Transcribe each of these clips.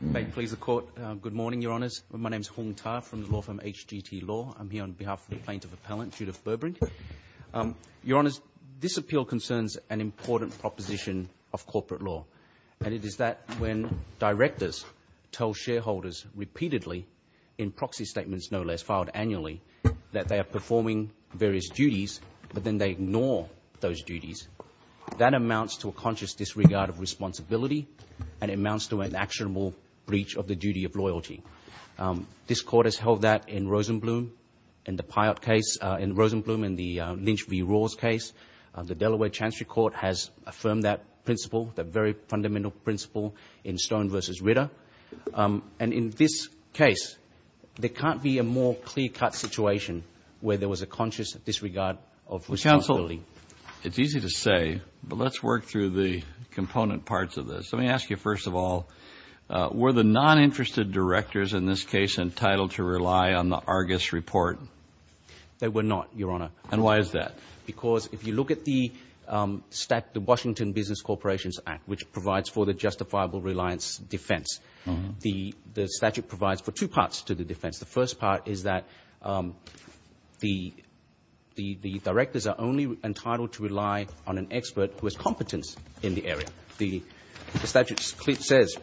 May it please the Court, good morning, Your Honours. My name is Hung Ta from the law firm HGT Law. I'm here on behalf of the plaintiff appellant, Judith Burbrink. Your Honours, this appeal concerns an important proposition of corporate law and it is that when directors tell shareholders repeatedly, in proxy statements no less, filed annually, that they are performing various duties but then they ignore those duties. That amounts to a conscious disregard of responsibility and it amounts to an actionable breach of the duty of loyalty. This Court has held that in Rosenblum in the Lynch v. Rawls case. The Delaware Chancery Court has affirmed that principle, that very fundamental principle in Stone v. Ritter. And in this case, there can't be a more clear-cut situation where there was a conscious disregard of responsibility. It's easy to say, but let's work through the component parts of this. Let me ask you first of all, were the non-interested directors in this case entitled to rely on the Argus report? They were not, Your Honour. And why is that? Because if you look at the Washington Business Corporations Act, which provides for the justifiable reliance defense, the statute provides for two parts to the defense. The first part is that the directors are only entitled to rely on an expert who has competence in the area. The statute says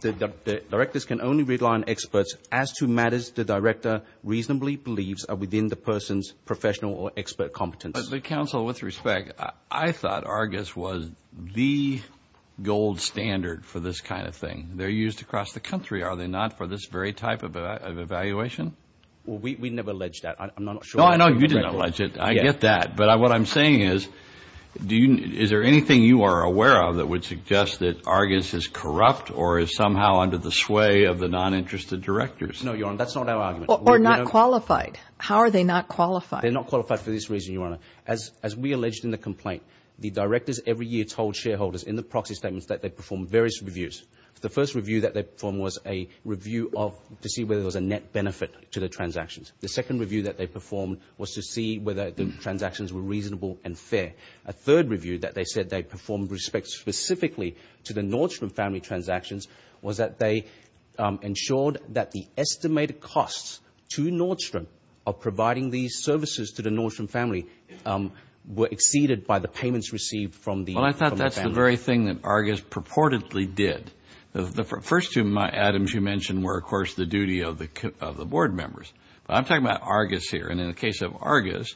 the directors can only rely on experts as to matters the director reasonably believes are within the person's professional or expert competence. But, counsel, with respect, I thought Argus was the gold standard for this kind of thing. They're used across the country, are they not, for this very type of evaluation? Well, we never alleged that. I'm not sure. No, I know you didn't allege it. I get that. But what I'm saying is, is there anything you are aware of that would suggest that Argus is corrupt or is somehow under the sway of the non-interested directors? No, Your Honour, that's not our argument. Or not qualified. How are they not qualified? They're not qualified for this reason, Your Honour. As we alleged in the complaint, the directors every year told shareholders in the proxy statements that they perform various reviews. The first review that they performed was a review of to see whether there was a net benefit to the transactions. The second review that they performed was to see whether the transactions were reasonable and fair. A third review that they said they performed with respect specifically to the Nordstrom family transactions was that they ensured that the estimated costs to Nordstrom of providing these services to the Nordstrom family were exceeded by the payments received from the family. That's the very thing that Argus purportedly did. The first two items you mentioned were, of course, the duty of the board members. But I'm talking about Argus here, and in the case of Argus,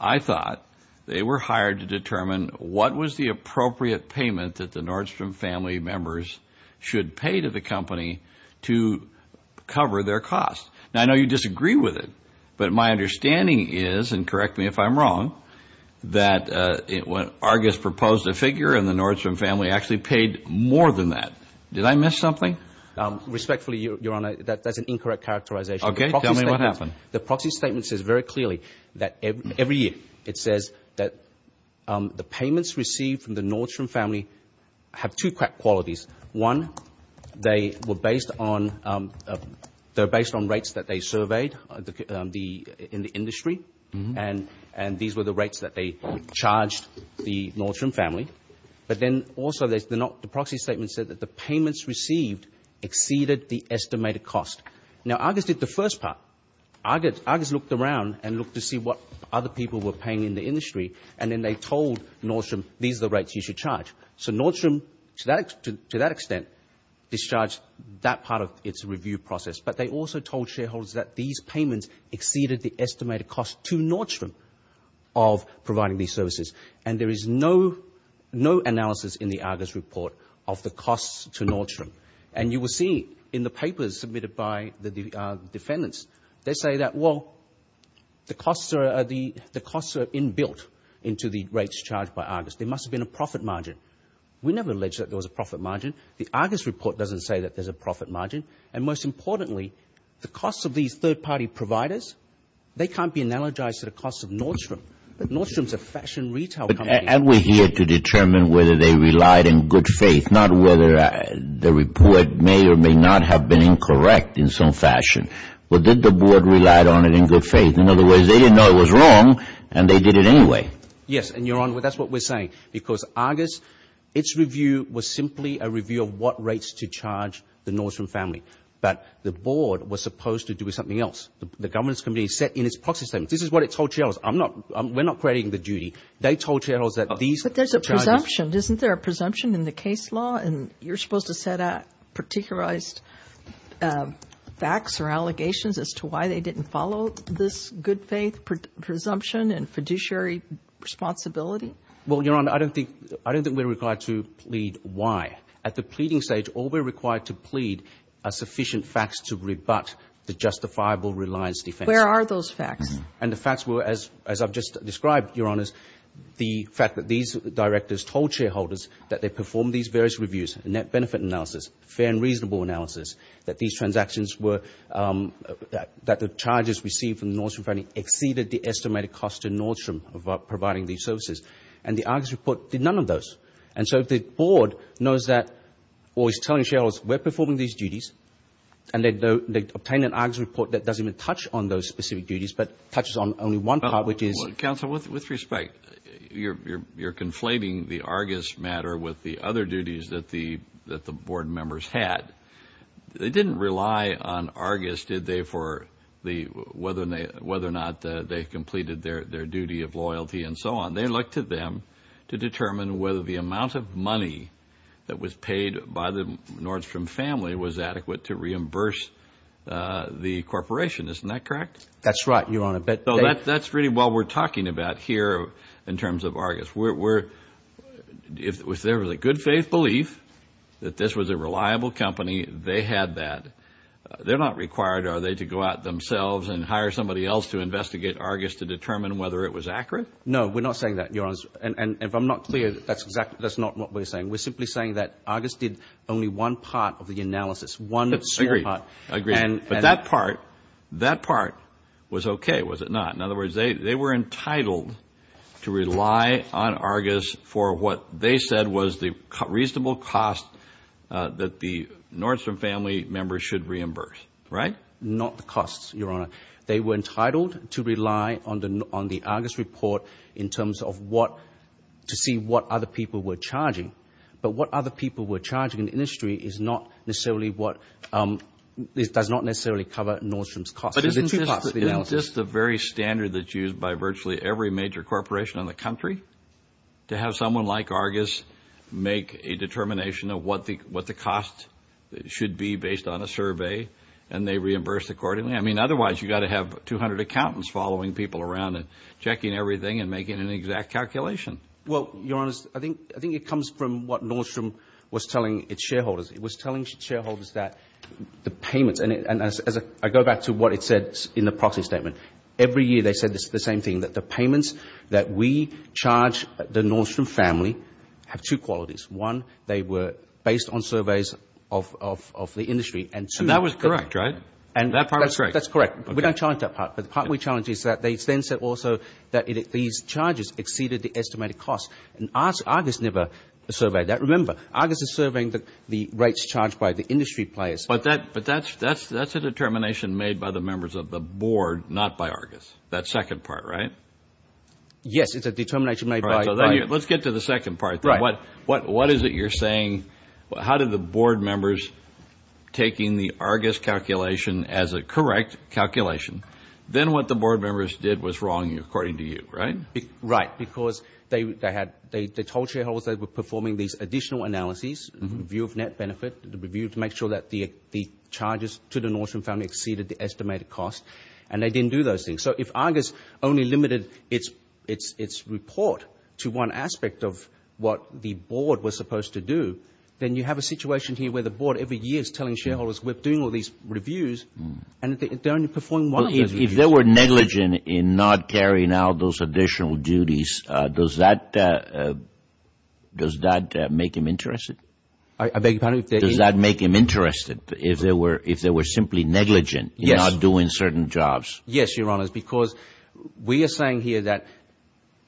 I thought they were hired to determine what was the appropriate payment that the Nordstrom family members should pay to the company to cover their costs. Now, I know you disagree with it, but my understanding is, and correct me if I'm wrong, that when Argus proposed a figure and the Nordstrom family actually paid more than that. Did I miss something? Respectfully, Your Honor, that's an incorrect characterization. Okay. Tell me what happened. The proxy statement says very clearly that every year it says that the payments received from the Nordstrom family have two qualities. One, they were based on rates that they surveyed in the industry, and these were the rates that they charged the Nordstrom family. But then also the proxy statement said that the payments received exceeded the estimated cost. Now, Argus did the first part. Argus looked around and looked to see what other people were paying in the industry, and then they told Nordstrom, these are the rates you should charge. So Nordstrom, to that extent, discharged that part of its review process. But they also told shareholders that these payments exceeded the estimated cost to Nordstrom of providing these services. And there is no analysis in the Argus report of the costs to Nordstrom. And you will see in the papers submitted by the defendants, they say that, well, the costs are inbuilt into the rates charged by Argus. There must have been a profit margin. We never alleged that there was a profit margin. The Argus report doesn't say that there's a profit margin. And most importantly, the costs of these third-party providers, they can't be analogized to the costs of Nordstrom. Nordstrom is a fashion retail company. And we're here to determine whether they relied in good faith, not whether the report may or may not have been incorrect in some fashion. But did the board relied on it in good faith? In other words, they didn't know it was wrong, and they did it anyway. Yes, and, Your Honor, that's what we're saying. Because Argus, its review was simply a review of what rates to charge the Nordstrom family. But the board was supposed to do something else. The governance committee said in its proxy statement, this is what it told shareholders. We're not creating the duty. They told shareholders that these charges. But there's a presumption. Isn't there a presumption in the case law? And you're supposed to set out particularized facts or allegations as to why they didn't follow this good faith presumption and fiduciary responsibility? Well, Your Honor, I don't think we're required to plead why. At the pleading stage, all we're required to plead are sufficient facts to rebut the justifiable reliance defense. Where are those facts? And the facts were, as I've just described, Your Honors, the fact that these directors told shareholders that they performed these various reviews, net benefit analysis, fair and reasonable analysis, that these transactions were, that the charges received from the Nordstrom family exceeded the estimated cost to Nordstrom of providing these services. And the Argus report did none of those. And so the board knows that or is telling shareholders we're performing these duties and they obtained an Argus report that doesn't even touch on those specific duties but touches on only one part, which is. Counsel, with respect, you're conflating the Argus matter with the other duties that the board members had. They didn't rely on Argus, did they, for whether or not they completed their duty of loyalty and so on. They looked to them to determine whether the amount of money that was paid by the Nordstrom family was adequate to reimburse the corporation. Isn't that correct? That's right, Your Honor. But that's really what we're talking about here in terms of Argus. If there was a good faith belief that this was a reliable company, they had that. They're not required, are they, to go out themselves and hire somebody else to investigate Argus to determine whether it was accurate? No, we're not saying that, Your Honor. And if I'm not clear, that's not what we're saying. We're simply saying that Argus did only one part of the analysis, one part. Agreed. But that part, that part was okay, was it not? In other words, they were entitled to rely on Argus for what they said was the reasonable cost that the Nordstrom family members should reimburse, right? Not the costs, Your Honor. They were entitled to rely on the Argus report in terms of what to see what other people were charging. But what other people were charging in the industry is not necessarily what – does not necessarily cover Nordstrom's costs. But isn't this the very standard that's used by virtually every major corporation in the country to have someone like Argus make a determination of what the cost should be based on a survey and they reimburse accordingly? I mean, otherwise, you've got to have 200 accountants following people around and checking everything and making an exact calculation. Well, Your Honor, I think it comes from what Nordstrom was telling its shareholders. And as I go back to what it said in the proxy statement, every year they said the same thing, that the payments that we charge the Nordstrom family have two qualities. One, they were based on surveys of the industry. And that was correct, right? That part was correct. That's correct. We don't challenge that part. But the part we challenge is that they then said also that these charges exceeded the estimated cost. And Argus never surveyed that. Remember, Argus is surveying the rates charged by the industry players. But that's a determination made by the members of the board, not by Argus. That second part, right? Yes, it's a determination made by – Let's get to the second part. What is it you're saying? How did the board members, taking the Argus calculation as a correct calculation, then what the board members did was wrong according to you, right? Right, because they told shareholders they were performing these additional analyses, review of net benefit, review to make sure that the charges to the Nordstrom family exceeded the estimated cost, and they didn't do those things. So if Argus only limited its report to one aspect of what the board was supposed to do, then you have a situation here where the board every year is telling shareholders we're doing all these reviews, and they're only performing one of those reviews. If they were negligent in not carrying out those additional duties, does that make them interested? I beg your pardon? Does that make them interested, if they were simply negligent in not doing certain jobs? Yes, Your Honor, because we are saying here that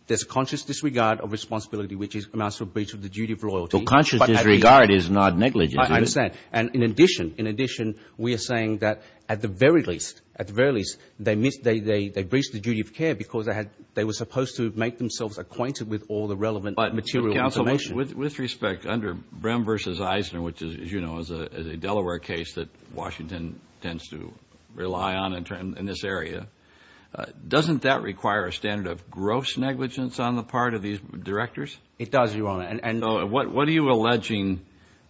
there's conscious disregard of responsibility, which amounts to a breach of the duty of loyalty. Well, conscious disregard is not negligent. I understand. And in addition, we are saying that at the very least, they breached the duty of care because they were supposed to make themselves acquainted with all the relevant material information. But, counsel, with respect, under Brehm v. Eisner, which, as you know, is a Delaware case that Washington tends to rely on in this area, doesn't that require a standard of gross negligence on the part of these directors? What are you alleging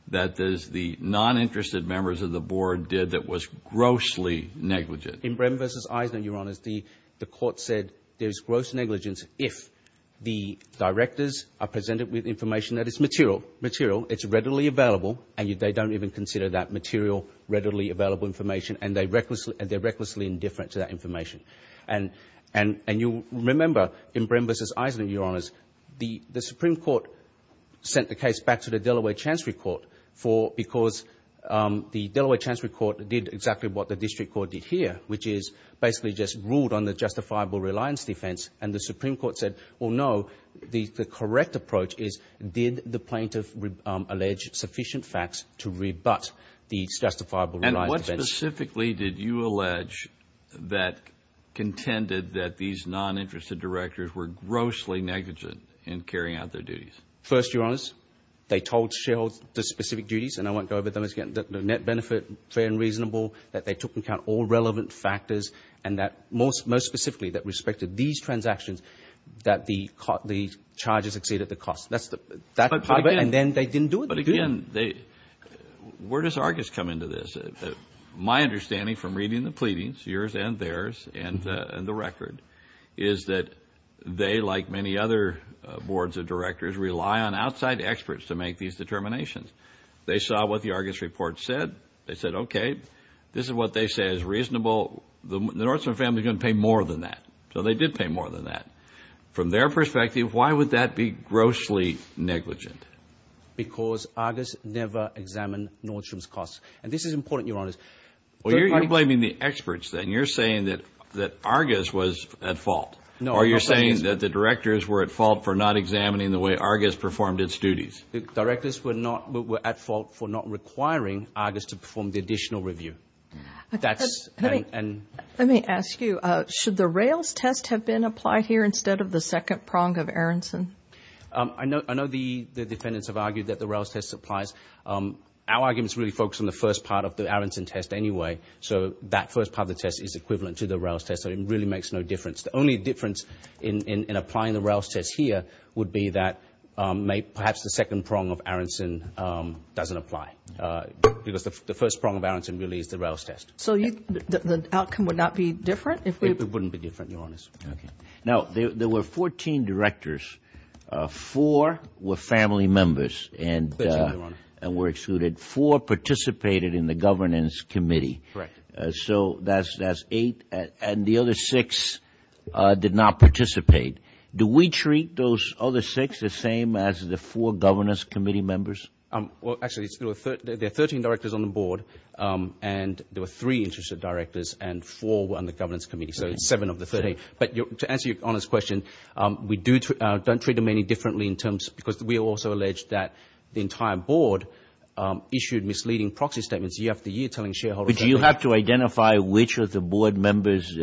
that the non-interested members of the board did that was grossly negligent? In Brehm v. Eisner, Your Honor, the court said there's gross negligence if the directors are presented with information that is material. It's readily available, and they don't even consider that material readily available information, and they're recklessly indifferent to that information. And you'll remember in Brehm v. Eisner, Your Honors, the Supreme Court sent the case back to the Delaware Chancery Court because the Delaware Chancery Court did exactly what the district court did here, which is basically just ruled on the justifiable reliance defense. And the Supreme Court said, well, no, the correct approach is did the plaintiff allege sufficient facts to rebut the justifiable reliance defense? What specifically did you allege that contended that these non-interested directors were grossly negligent in carrying out their duties? First, Your Honors, they told shareholders the specific duties, and I won't go over them again, that the net benefit, fair and reasonable, that they took into account all relevant factors, and that most specifically, that with respect to these transactions, that the charges exceeded the cost. That's part of it, and then they didn't do it. But again, where does Argus come into this? My understanding from reading the pleadings, yours and theirs, and the record, is that they, like many other boards of directors, rely on outside experts to make these determinations. They saw what the Argus report said. They said, okay, this is what they say is reasonable. The Nordstrom family is going to pay more than that. So they did pay more than that. From their perspective, why would that be grossly negligent? Because Argus never examined Nordstrom's costs, and this is important, Your Honors. Well, you're blaming the experts then. You're saying that Argus was at fault, or you're saying that the directors were at fault for not examining the way Argus performed its duties. The directors were at fault for not requiring Argus to perform the additional review. Let me ask you, should the Rails test have been applied here instead of the second prong of Aronson? I know the defendants have argued that the Rails test applies. Our arguments really focus on the first part of the Aronson test anyway, so that first part of the test is equivalent to the Rails test, so it really makes no difference. The only difference in applying the Rails test here would be that perhaps the second prong of Aronson doesn't apply, because the first prong of Aronson really is the Rails test. So the outcome would not be different? It wouldn't be different, Your Honors. Okay. Now, there were 14 directors. Four were family members and were excluded. Four participated in the governance committee. Correct. So that's eight, and the other six did not participate. Do we treat those other six the same as the four governance committee members? Well, actually, there are 13 directors on the board, and there were three interested directors, and four were on the governance committee, so seven of the 13. But to answer Your Honors' question, we don't treat them any differently in terms – because we also allege that the entire board issued misleading proxy statements year after year telling shareholders – But do you have to identify which of the board members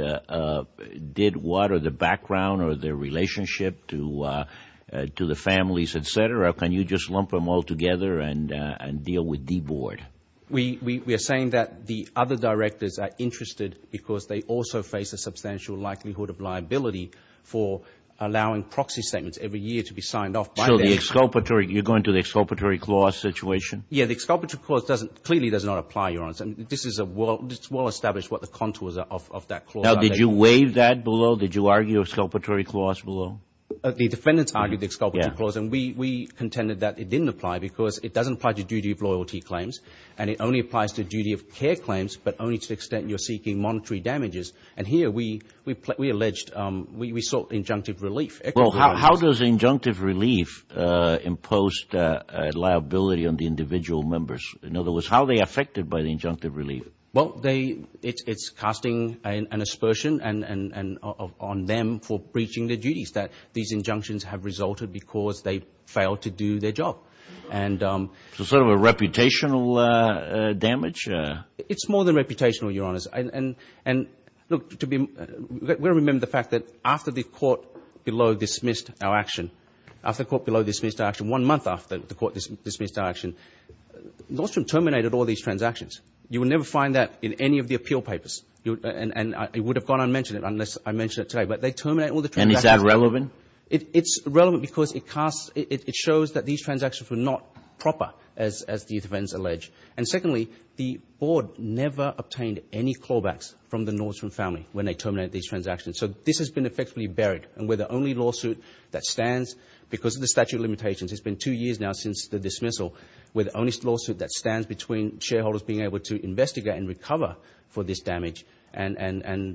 did what or the background or their relationship to the families, et cetera? Or can you just lump them all together and deal with the board? We are saying that the other directors are interested because they also face a substantial likelihood of liability for allowing proxy statements every year to be signed off by them. So the exculpatory – you're going to the exculpatory clause situation? Yeah, the exculpatory clause clearly does not apply, Your Honors. This is a well-established what the contours of that clause are. Now, did you waive that below? Did you argue a exculpatory clause below? The defendants argued the exculpatory clause, and we contended that it didn't apply because it doesn't apply to duty of loyalty claims, and it only applies to duty of care claims, but only to the extent you're seeking monetary damages. And here we alleged – we sought injunctive relief. Well, how does injunctive relief impose liability on the individual members? In other words, how are they affected by the injunctive relief? Well, they – it's casting an aspersion on them for breaching their duties that these injunctions have resulted because they failed to do their job. So sort of a reputational damage? It's more than reputational, Your Honors. And look, we remember the fact that after the court below dismissed our action, after the court below dismissed our action, one month after the court dismissed our action, Nordstrom terminated all these transactions. You will never find that in any of the appeal papers, and it would have gone unmentioned unless I mentioned it today. But they terminated all the transactions. And is that relevant? It's relevant because it casts – it shows that these transactions were not proper, as the defendants allege. And secondly, the board never obtained any callbacks from the Nordstrom family when they terminated these transactions. So this has been effectively buried, and we're the only lawsuit that stands because of the statute of limitations. It's been two years now since the dismissal. We're the only lawsuit that stands between shareholders being able to investigate and recover for this damage and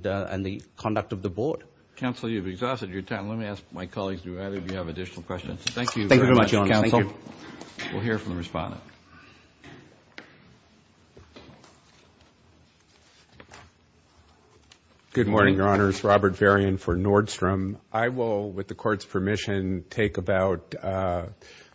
the conduct of the board. Counsel, you've exhausted your time. Let me ask my colleagues, do either of you have additional questions? Thank you very much, Your Honor. Thank you. We'll hear from the respondent. Good morning, Your Honors. Robert Varian for Nordstrom. I will, with the Court's permission, take about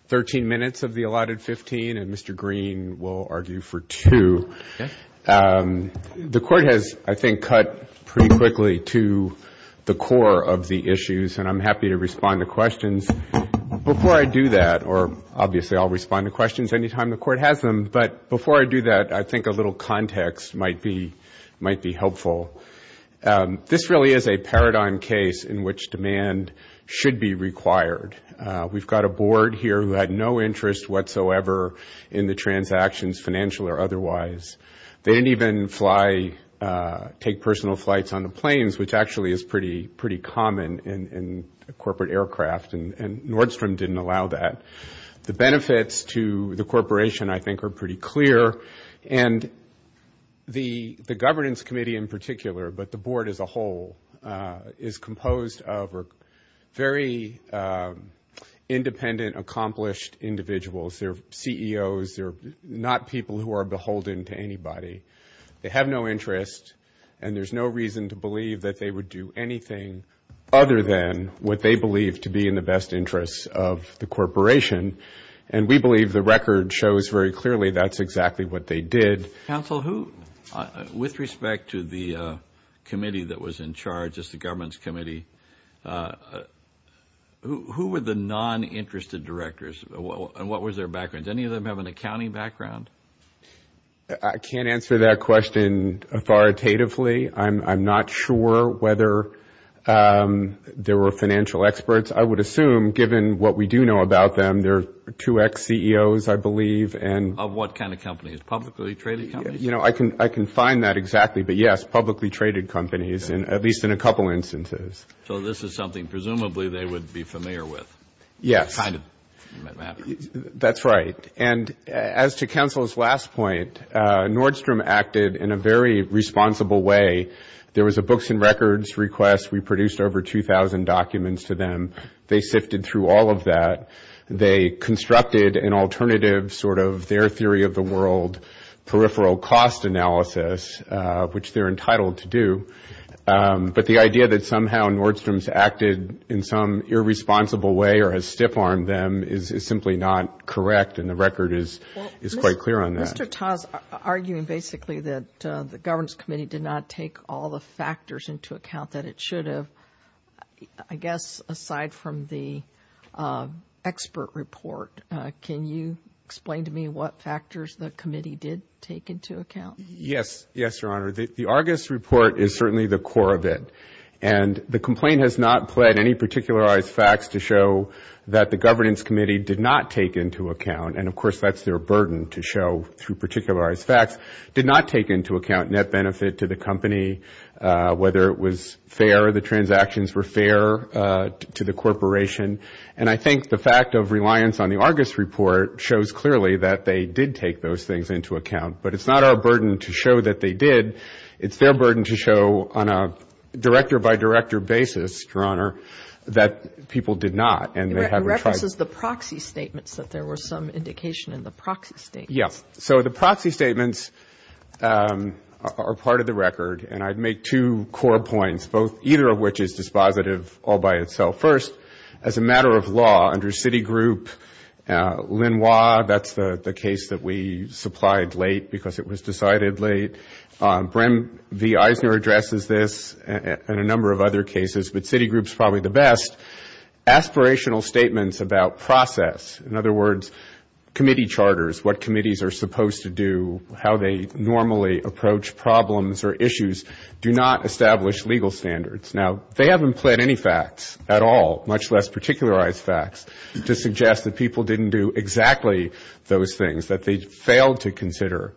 13 minutes of the allotted 15, and Mr. Green will argue for two. Okay. The Court has, I think, cut pretty quickly to the core of the issues, and I'm happy to respond to questions. Before I do that, or obviously I'll respond to questions any time the Court has them, but before I do that, I think a little context might be helpful. This really is a paradigm case in which demand should be required. We've got a board here who had no interest whatsoever in the transactions, financial or otherwise. They didn't even take personal flights on the planes, which actually is pretty common in corporate aircraft, and Nordstrom didn't allow that. The benefits to the corporation, I think, are pretty clear. And the governance committee in particular, but the board as a whole, is composed of very independent, accomplished individuals. They're CEOs. They're not people who are beholden to anybody. They have no interest, and there's no reason to believe that they would do anything other than what they believe to be in the best interests of the corporation. And we believe the record shows very clearly that's exactly what they did. Counsel, with respect to the committee that was in charge, just the governance committee, who were the non-interested directors, and what was their background? Did any of them have an accounting background? I can't answer that question authoritatively. I'm not sure whether there were financial experts. I would assume, given what we do know about them, they're two ex-CEOs, I believe. Of what kind of companies? Publicly traded companies? I can find that exactly, but yes, publicly traded companies, at least in a couple instances. So this is something presumably they would be familiar with. Yes. That's right. And as to counsel's last point, Nordstrom acted in a very responsible way. There was a books and records request. We produced over 2,000 documents to them. They sifted through all of that. They constructed an alternative sort of their theory of the world, peripheral cost analysis, which they're entitled to do. But the idea that somehow Nordstrom's acted in some irresponsible way or has stiff-armed them is simply not correct, and the record is quite clear on that. Mr. Taz, arguing basically that the Governance Committee did not take all the factors into account that it should have, I guess aside from the expert report, can you explain to me what factors the committee did take into account? Yes. Yes, Your Honor. The Argus report is certainly the core of it, and the complaint has not pled any particularized facts to show that the Governance Committee did not take into account, and of course that's their burden to show through particularized facts, did not take into account net benefit to the company, whether it was fair, the transactions were fair to the corporation. And I think the fact of reliance on the Argus report shows clearly that they did take those things into account. But it's not our burden to show that they did. It's their burden to show on a director-by-director basis, Your Honor, that people did not. It references the proxy statements, that there was some indication in the proxy statements. Yes. So the proxy statements are part of the record, and I'd make two core points, either of which is dispositive all by itself. First, as a matter of law, under Citigroup, Lenoir, that's the case that we supplied late because it was decided late. Brehm v. Eisner addresses this and a number of other cases, but Citigroup's probably the best. Aspirational statements about process, in other words, committee charters, what committees are supposed to do, how they normally approach problems or issues, do not establish legal standards. Now, they haven't pled any facts at all, much less particularized facts, to suggest that people didn't do exactly those things, that they failed to consider,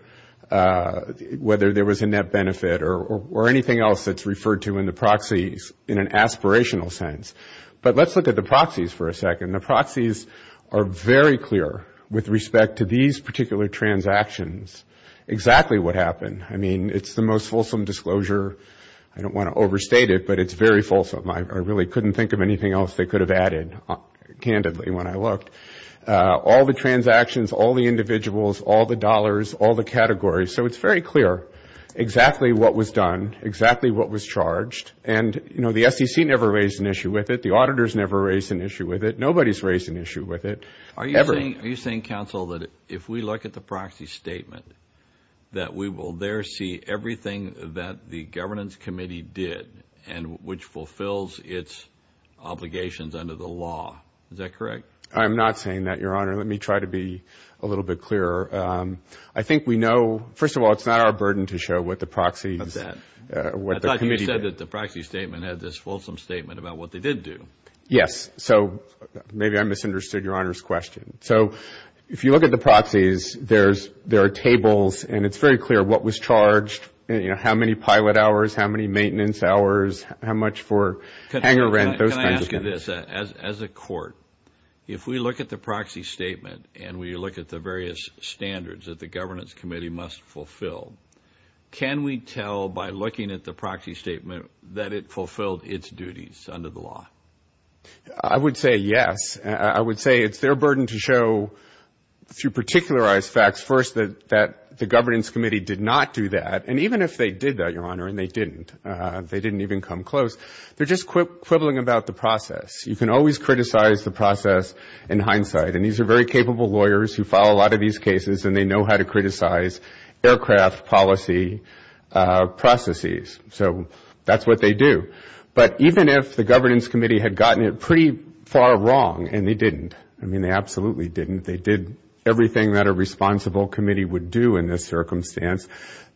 whether there was a net benefit or anything else that's referred to in the proxies in an aspirational sense. But let's look at the proxies for a second. The proxies are very clear with respect to these particular transactions exactly what happened. I mean, it's the most fulsome disclosure. I don't want to overstate it, but it's very fulsome. I really couldn't think of anything else they could have added, candidly, when I looked. All the transactions, all the individuals, all the dollars, all the categories, so it's very clear exactly what was done, exactly what was charged. And, you know, the SEC never raised an issue with it. The auditors never raised an issue with it. Nobody's raised an issue with it, ever. Are you saying, counsel, that if we look at the proxy statement, that we will there see everything that the Governance Committee did and which fulfills its obligations under the law? Is that correct? I'm not saying that, Your Honor. Let me try to be a little bit clearer. I think we know, first of all, it's not our burden to show what the proxies, what the committee did. We know that the proxy statement had this fulsome statement about what they did do. Yes. So maybe I misunderstood Your Honor's question. So if you look at the proxies, there are tables, and it's very clear what was charged, how many pilot hours, how many maintenance hours, how much for hanger rent, those kinds of things. Can I ask you this? As a court, if we look at the proxy statement and we look at the various standards that the Governance Committee must fulfill, can we tell by looking at the proxy statement that it fulfilled its duties under the law? I would say yes. I would say it's their burden to show through particularized facts first that the Governance Committee did not do that. And even if they did that, Your Honor, and they didn't, they didn't even come close, they're just quibbling about the process. You can always criticize the process in hindsight. And these are very capable lawyers who follow a lot of these cases, and they know how to criticize aircraft policy processes. So that's what they do. But even if the Governance Committee had gotten it pretty far wrong, and they didn't, I mean, they absolutely didn't, they did everything that a responsible committee would do in this circumstance,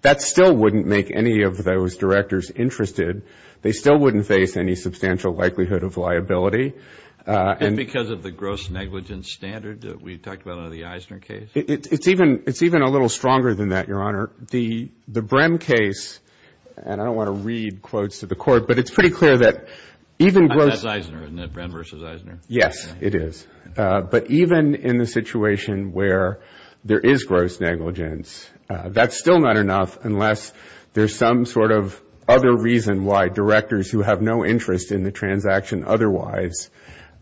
that still wouldn't make any of those directors interested. They still wouldn't face any substantial likelihood of liability. And because of the gross negligence standard that we've talked about under the Eisner case? It's even a little stronger than that, Your Honor. The Brehm case, and I don't want to read quotes to the Court, but it's pretty clear that even gross. That's Eisner, isn't it? Brehm versus Eisner. Yes, it is. But even in the situation where there is gross negligence, that's still not enough unless there's some sort of other reason why directors who have no interest in the transaction otherwise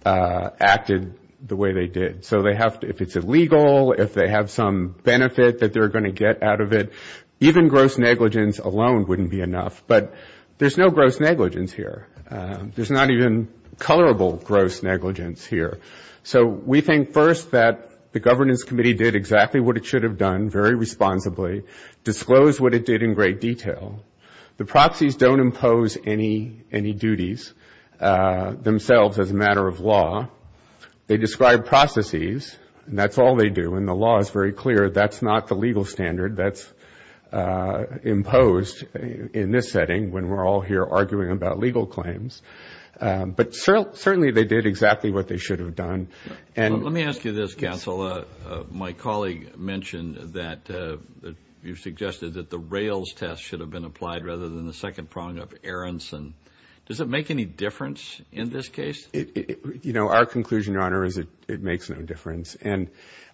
acted the way they did. So if it's illegal, if they have some benefit that they're going to get out of it, even gross negligence alone wouldn't be enough. But there's no gross negligence here. There's not even colorable gross negligence here. So we think first that the Governance Committee did exactly what it should have done very responsibly, disclosed what it did in great detail. The proxies don't impose any duties themselves as a matter of law. They describe processes, and that's all they do. And the law is very clear, that's not the legal standard that's imposed in this setting when we're all here arguing about legal claims. But certainly they did exactly what they should have done. Let me ask you this, Counsel. My colleague mentioned that you suggested that the Rails test should have been applied rather than the second prong of Aronson. Does it make any difference in this case? You know, our conclusion, Your Honor, is it makes no difference. And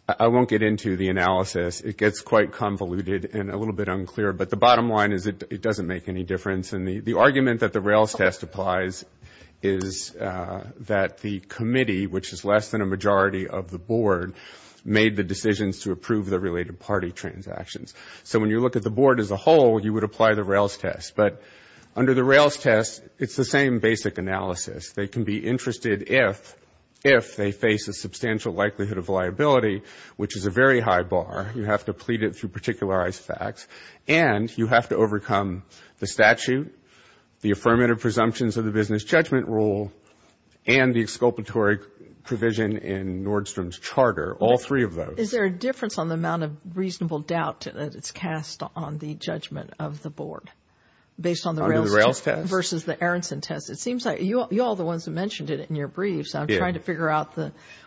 I won't get into the analysis. It gets quite convoluted and a little bit unclear. But the bottom line is it doesn't make any difference. And the argument that the Rails test applies is that the committee, which is less than a majority of the Board, made the decisions to approve the related party transactions. So when you look at the Board as a whole, you would apply the Rails test. But under the Rails test, it's the same basic analysis. They can be interested if they face a substantial likelihood of liability, which is a very high bar. You have to plead it through particularized facts. And you have to overcome the statute, the affirmative presumptions of the business judgment rule, and the exculpatory provision in Nordstrom's charter, all three of those. Is there a difference on the amount of reasonable doubt that it's cast on the judgment of the Board based on the Rails test? Under the Rails test. Versus the Aronson test. It seems like you all are the ones who mentioned it in your briefs. I'm trying to figure out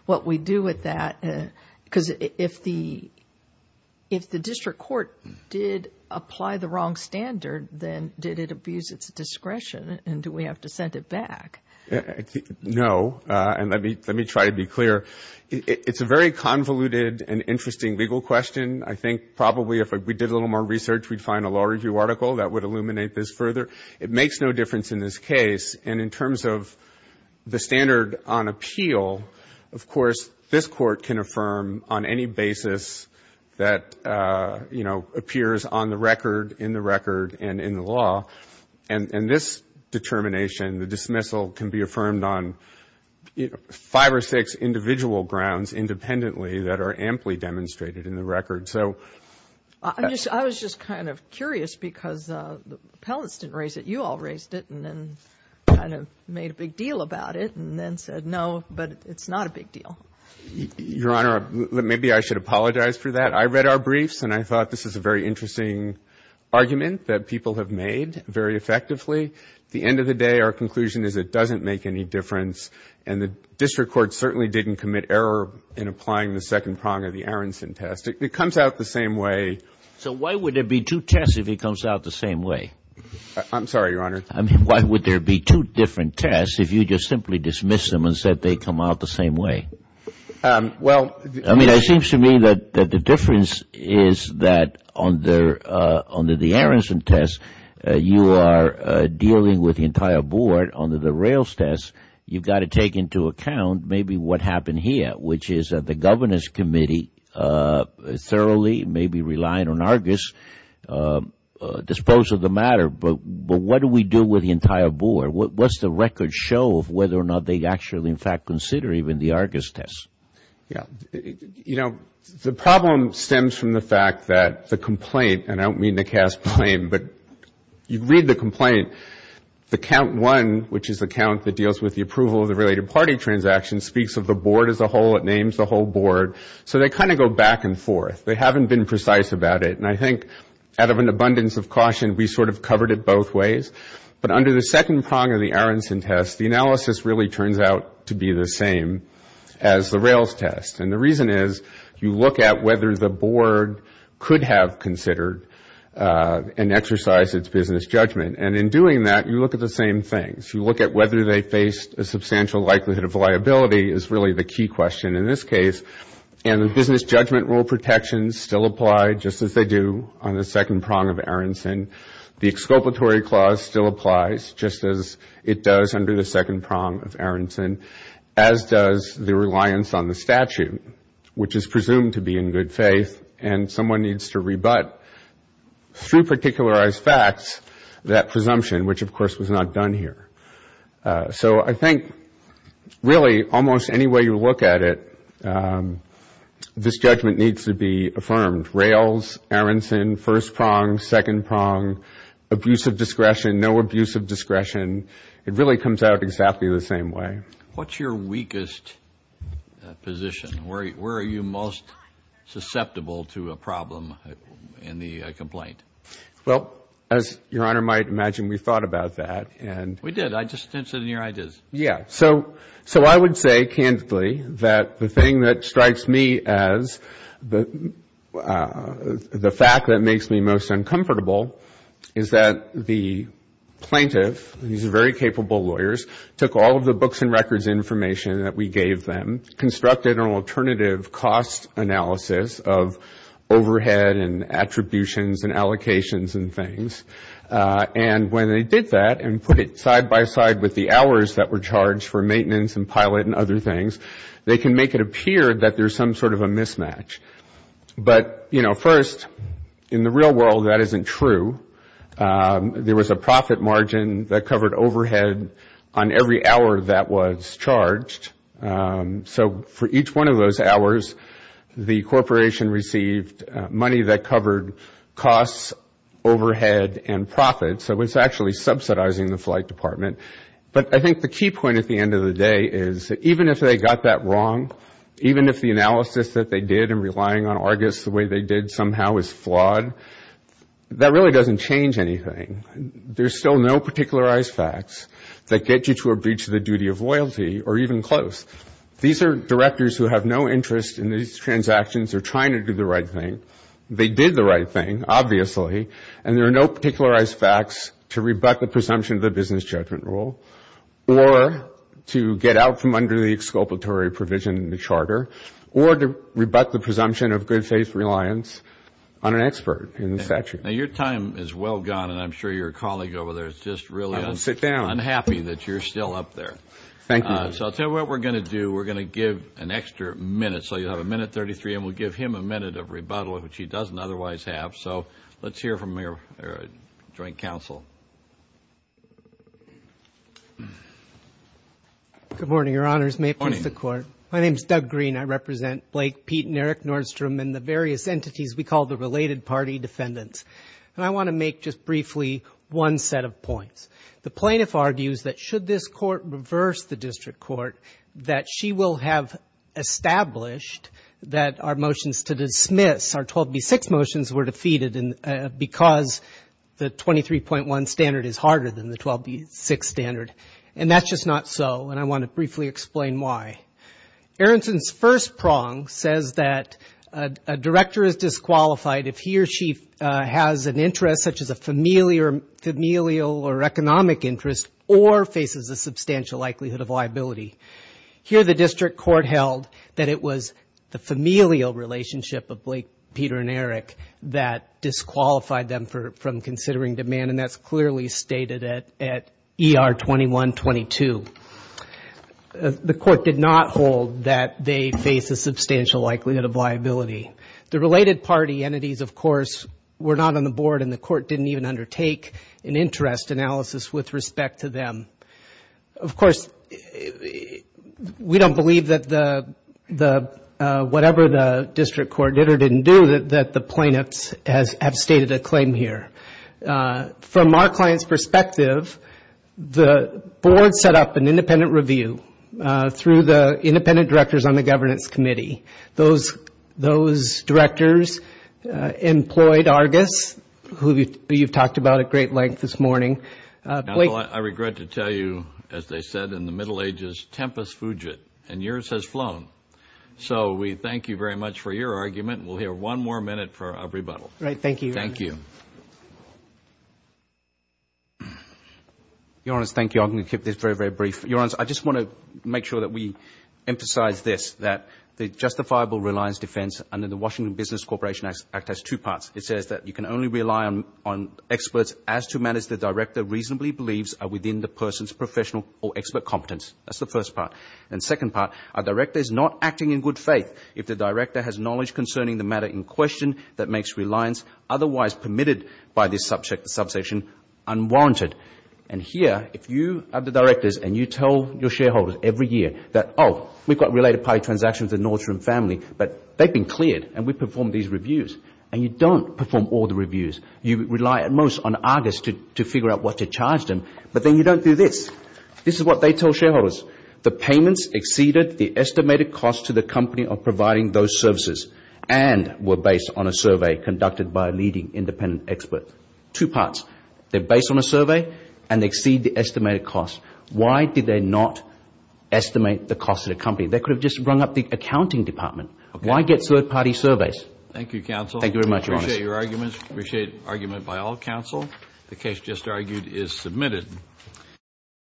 what we do with that. Because if the district court did apply the wrong standard, then did it abuse its discretion? And do we have to send it back? No. And let me try to be clear. It's a very convoluted and interesting legal question. I think probably if we did a little more research, we'd find a law review article that would illuminate this further. It makes no difference in this case. And in terms of the standard on appeal, of course, this court can affirm on any basis that, you know, appears on the record, in the record, and in the law. And this determination, the dismissal, can be affirmed on five or six individual grounds independently that are amply demonstrated in the record. I was just kind of curious because the appellants didn't raise it. You all raised it and then kind of made a big deal about it and then said no, but it's not a big deal. Your Honor, maybe I should apologize for that. I read our briefs and I thought this is a very interesting argument that people have made very effectively. At the end of the day, our conclusion is it doesn't make any difference. And the district court certainly didn't commit error in applying the second prong of the Aronson test. It comes out the same way. So why would there be two tests if it comes out the same way? I'm sorry, Your Honor. I mean, why would there be two different tests if you just simply dismiss them and said they come out the same way? Well, I mean, it seems to me that the difference is that under the Aronson test, you are dealing with the entire board. Under the Rails test, you've got to take into account maybe what happened here, which is that the governance committee thoroughly, maybe relying on Argus, disposed of the matter. But what do we do with the entire board? What's the record show of whether or not they actually, in fact, consider even the Argus test? You know, the problem stems from the fact that the complaint, and I don't mean to cast blame, but you read the complaint, the count one, which is the count that deals with the approval of the related party transaction, speaks of the board as a whole. It names the whole board. So they kind of go back and forth. They haven't been precise about it. And I think out of an abundance of caution, we sort of covered it both ways. But under the second prong of the Aronson test, the analysis really turns out to be the same as the Rails test. And the reason is you look at whether the board could have considered and exercised its business judgment. And in doing that, you look at the same things. You look at whether they faced a substantial likelihood of liability is really the key question in this case. And the business judgment rule protections still apply, just as they do on the second prong of Aronson. The exculpatory clause still applies, just as it does under the second prong of Aronson, as does the reliance on the statute, which is presumed to be in good faith. And someone needs to rebut through particularized facts that presumption, which, of course, was not done here. So I think really almost any way you look at it, this judgment needs to be affirmed. Rails, Aronson, first prong, second prong, abuse of discretion, no abuse of discretion. It really comes out exactly the same way. What's your weakest position? Where are you most susceptible to a problem in the complaint? Well, as Your Honor might imagine, we thought about that. We did. I just didn't sit in your ideas. Yeah. So I would say candidly that the thing that strikes me as the fact that makes me most uncomfortable is that the plaintiff, these very capable lawyers, took all of the books and records information that we gave them, constructed an alternative cost analysis of overhead and attributions and allocations and things. And when they did that and put it side by side with the hours that were charged for maintenance and pilot and other things, they can make it appear that there's some sort of a mismatch. But, you know, first, in the real world, that isn't true. There was a profit margin that covered overhead on every hour that was charged. So for each one of those hours, the corporation received money that covered costs, overhead, and profits. So it's actually subsidizing the flight department. But I think the key point at the end of the day is that even if they got that wrong, even if the analysis that they did in relying on Argus the way they did somehow is flawed, that really doesn't change anything. There's still no particularized facts that get you to a breach of the duty of loyalty or even close. These are directors who have no interest in these transactions. They're trying to do the right thing. They did the right thing, obviously. And there are no particularized facts to rebut the presumption of the business judgment rule or to rebut the presumption of good faith reliance on an expert in the statute. Now, your time is well gone, and I'm sure your colleague over there is just really unhappy that you're still up there. Thank you. So I'll tell you what we're going to do. We're going to give an extra minute. So you'll have a minute 33, and we'll give him a minute of rebuttal, which he doesn't otherwise have. So let's hear from your joint counsel. Good morning, Your Honors. May it please the Court. My name is Doug Green. I represent Blake, Pete, and Eric Nordstrom and the various entities we call the related party defendants. And I want to make just briefly one set of points. The plaintiff argues that should this court reverse the district court, that she will have established that our motions to dismiss, our 12b-6 motions, were defeated because the 23.1 standard is harder than the 12b-6 standard. And that's just not so, and I want to briefly explain why. Aronson's first prong says that a director is disqualified if he or she has an interest such as a familial or economic interest or faces a substantial likelihood of liability. Here the district court held that it was the familial relationship of Blake, Peter, and Eric that disqualified them from considering demand, and that's clearly stated at ER-21-22. The court did not hold that they face a substantial likelihood of liability. The related party entities, of course, were not on the board, and the court didn't even undertake an interest analysis with respect to them. Of course, we don't believe that whatever the district court did or didn't do, that the plaintiffs have stated a claim here. From our client's perspective, the board set up an independent review through the independent directors on the governance committee. Those directors employed Argus, who you've talked about at great length this morning. Now, Bill, I regret to tell you, as they said in the Middle Ages, tempus fugit, and yours has flown. So we thank you very much for your argument, and we'll hear one more minute for a rebuttal. All right, thank you. Thank you. Your Honors, thank you. I'm going to keep this very, very brief. Your Honors, I just want to make sure that we emphasize this, that the justifiable reliance defense under the Washington Business Corporation Act has two parts. It says that you can only rely on experts as to matters the director reasonably believes are within the person's professional or expert competence. That's the first part. And the second part, a director is not acting in good faith if the director has knowledge concerning the matter in question that makes reliance otherwise permitted by this subsection unwarranted. And here, if you are the directors, and you tell your shareholders every year that, oh, we've got related party transactions in Nordstrom Family, but they've been cleared, and we've performed these reviews, and you don't perform all the reviews. You rely at most on August to figure out what to charge them, but then you don't do this. This is what they tell shareholders. The payments exceeded the estimated cost to the company of providing those services and were based on a survey conducted by a leading independent expert. Two parts. They're based on a survey, and they exceed the estimated cost. Why did they not estimate the cost to the company? They could have just rung up the accounting department. Why get third-party surveys? Thank you, counsel. Thank you very much, Your Honor. Appreciate your arguments. Appreciate argument by all counsel. The case just argued is submitted.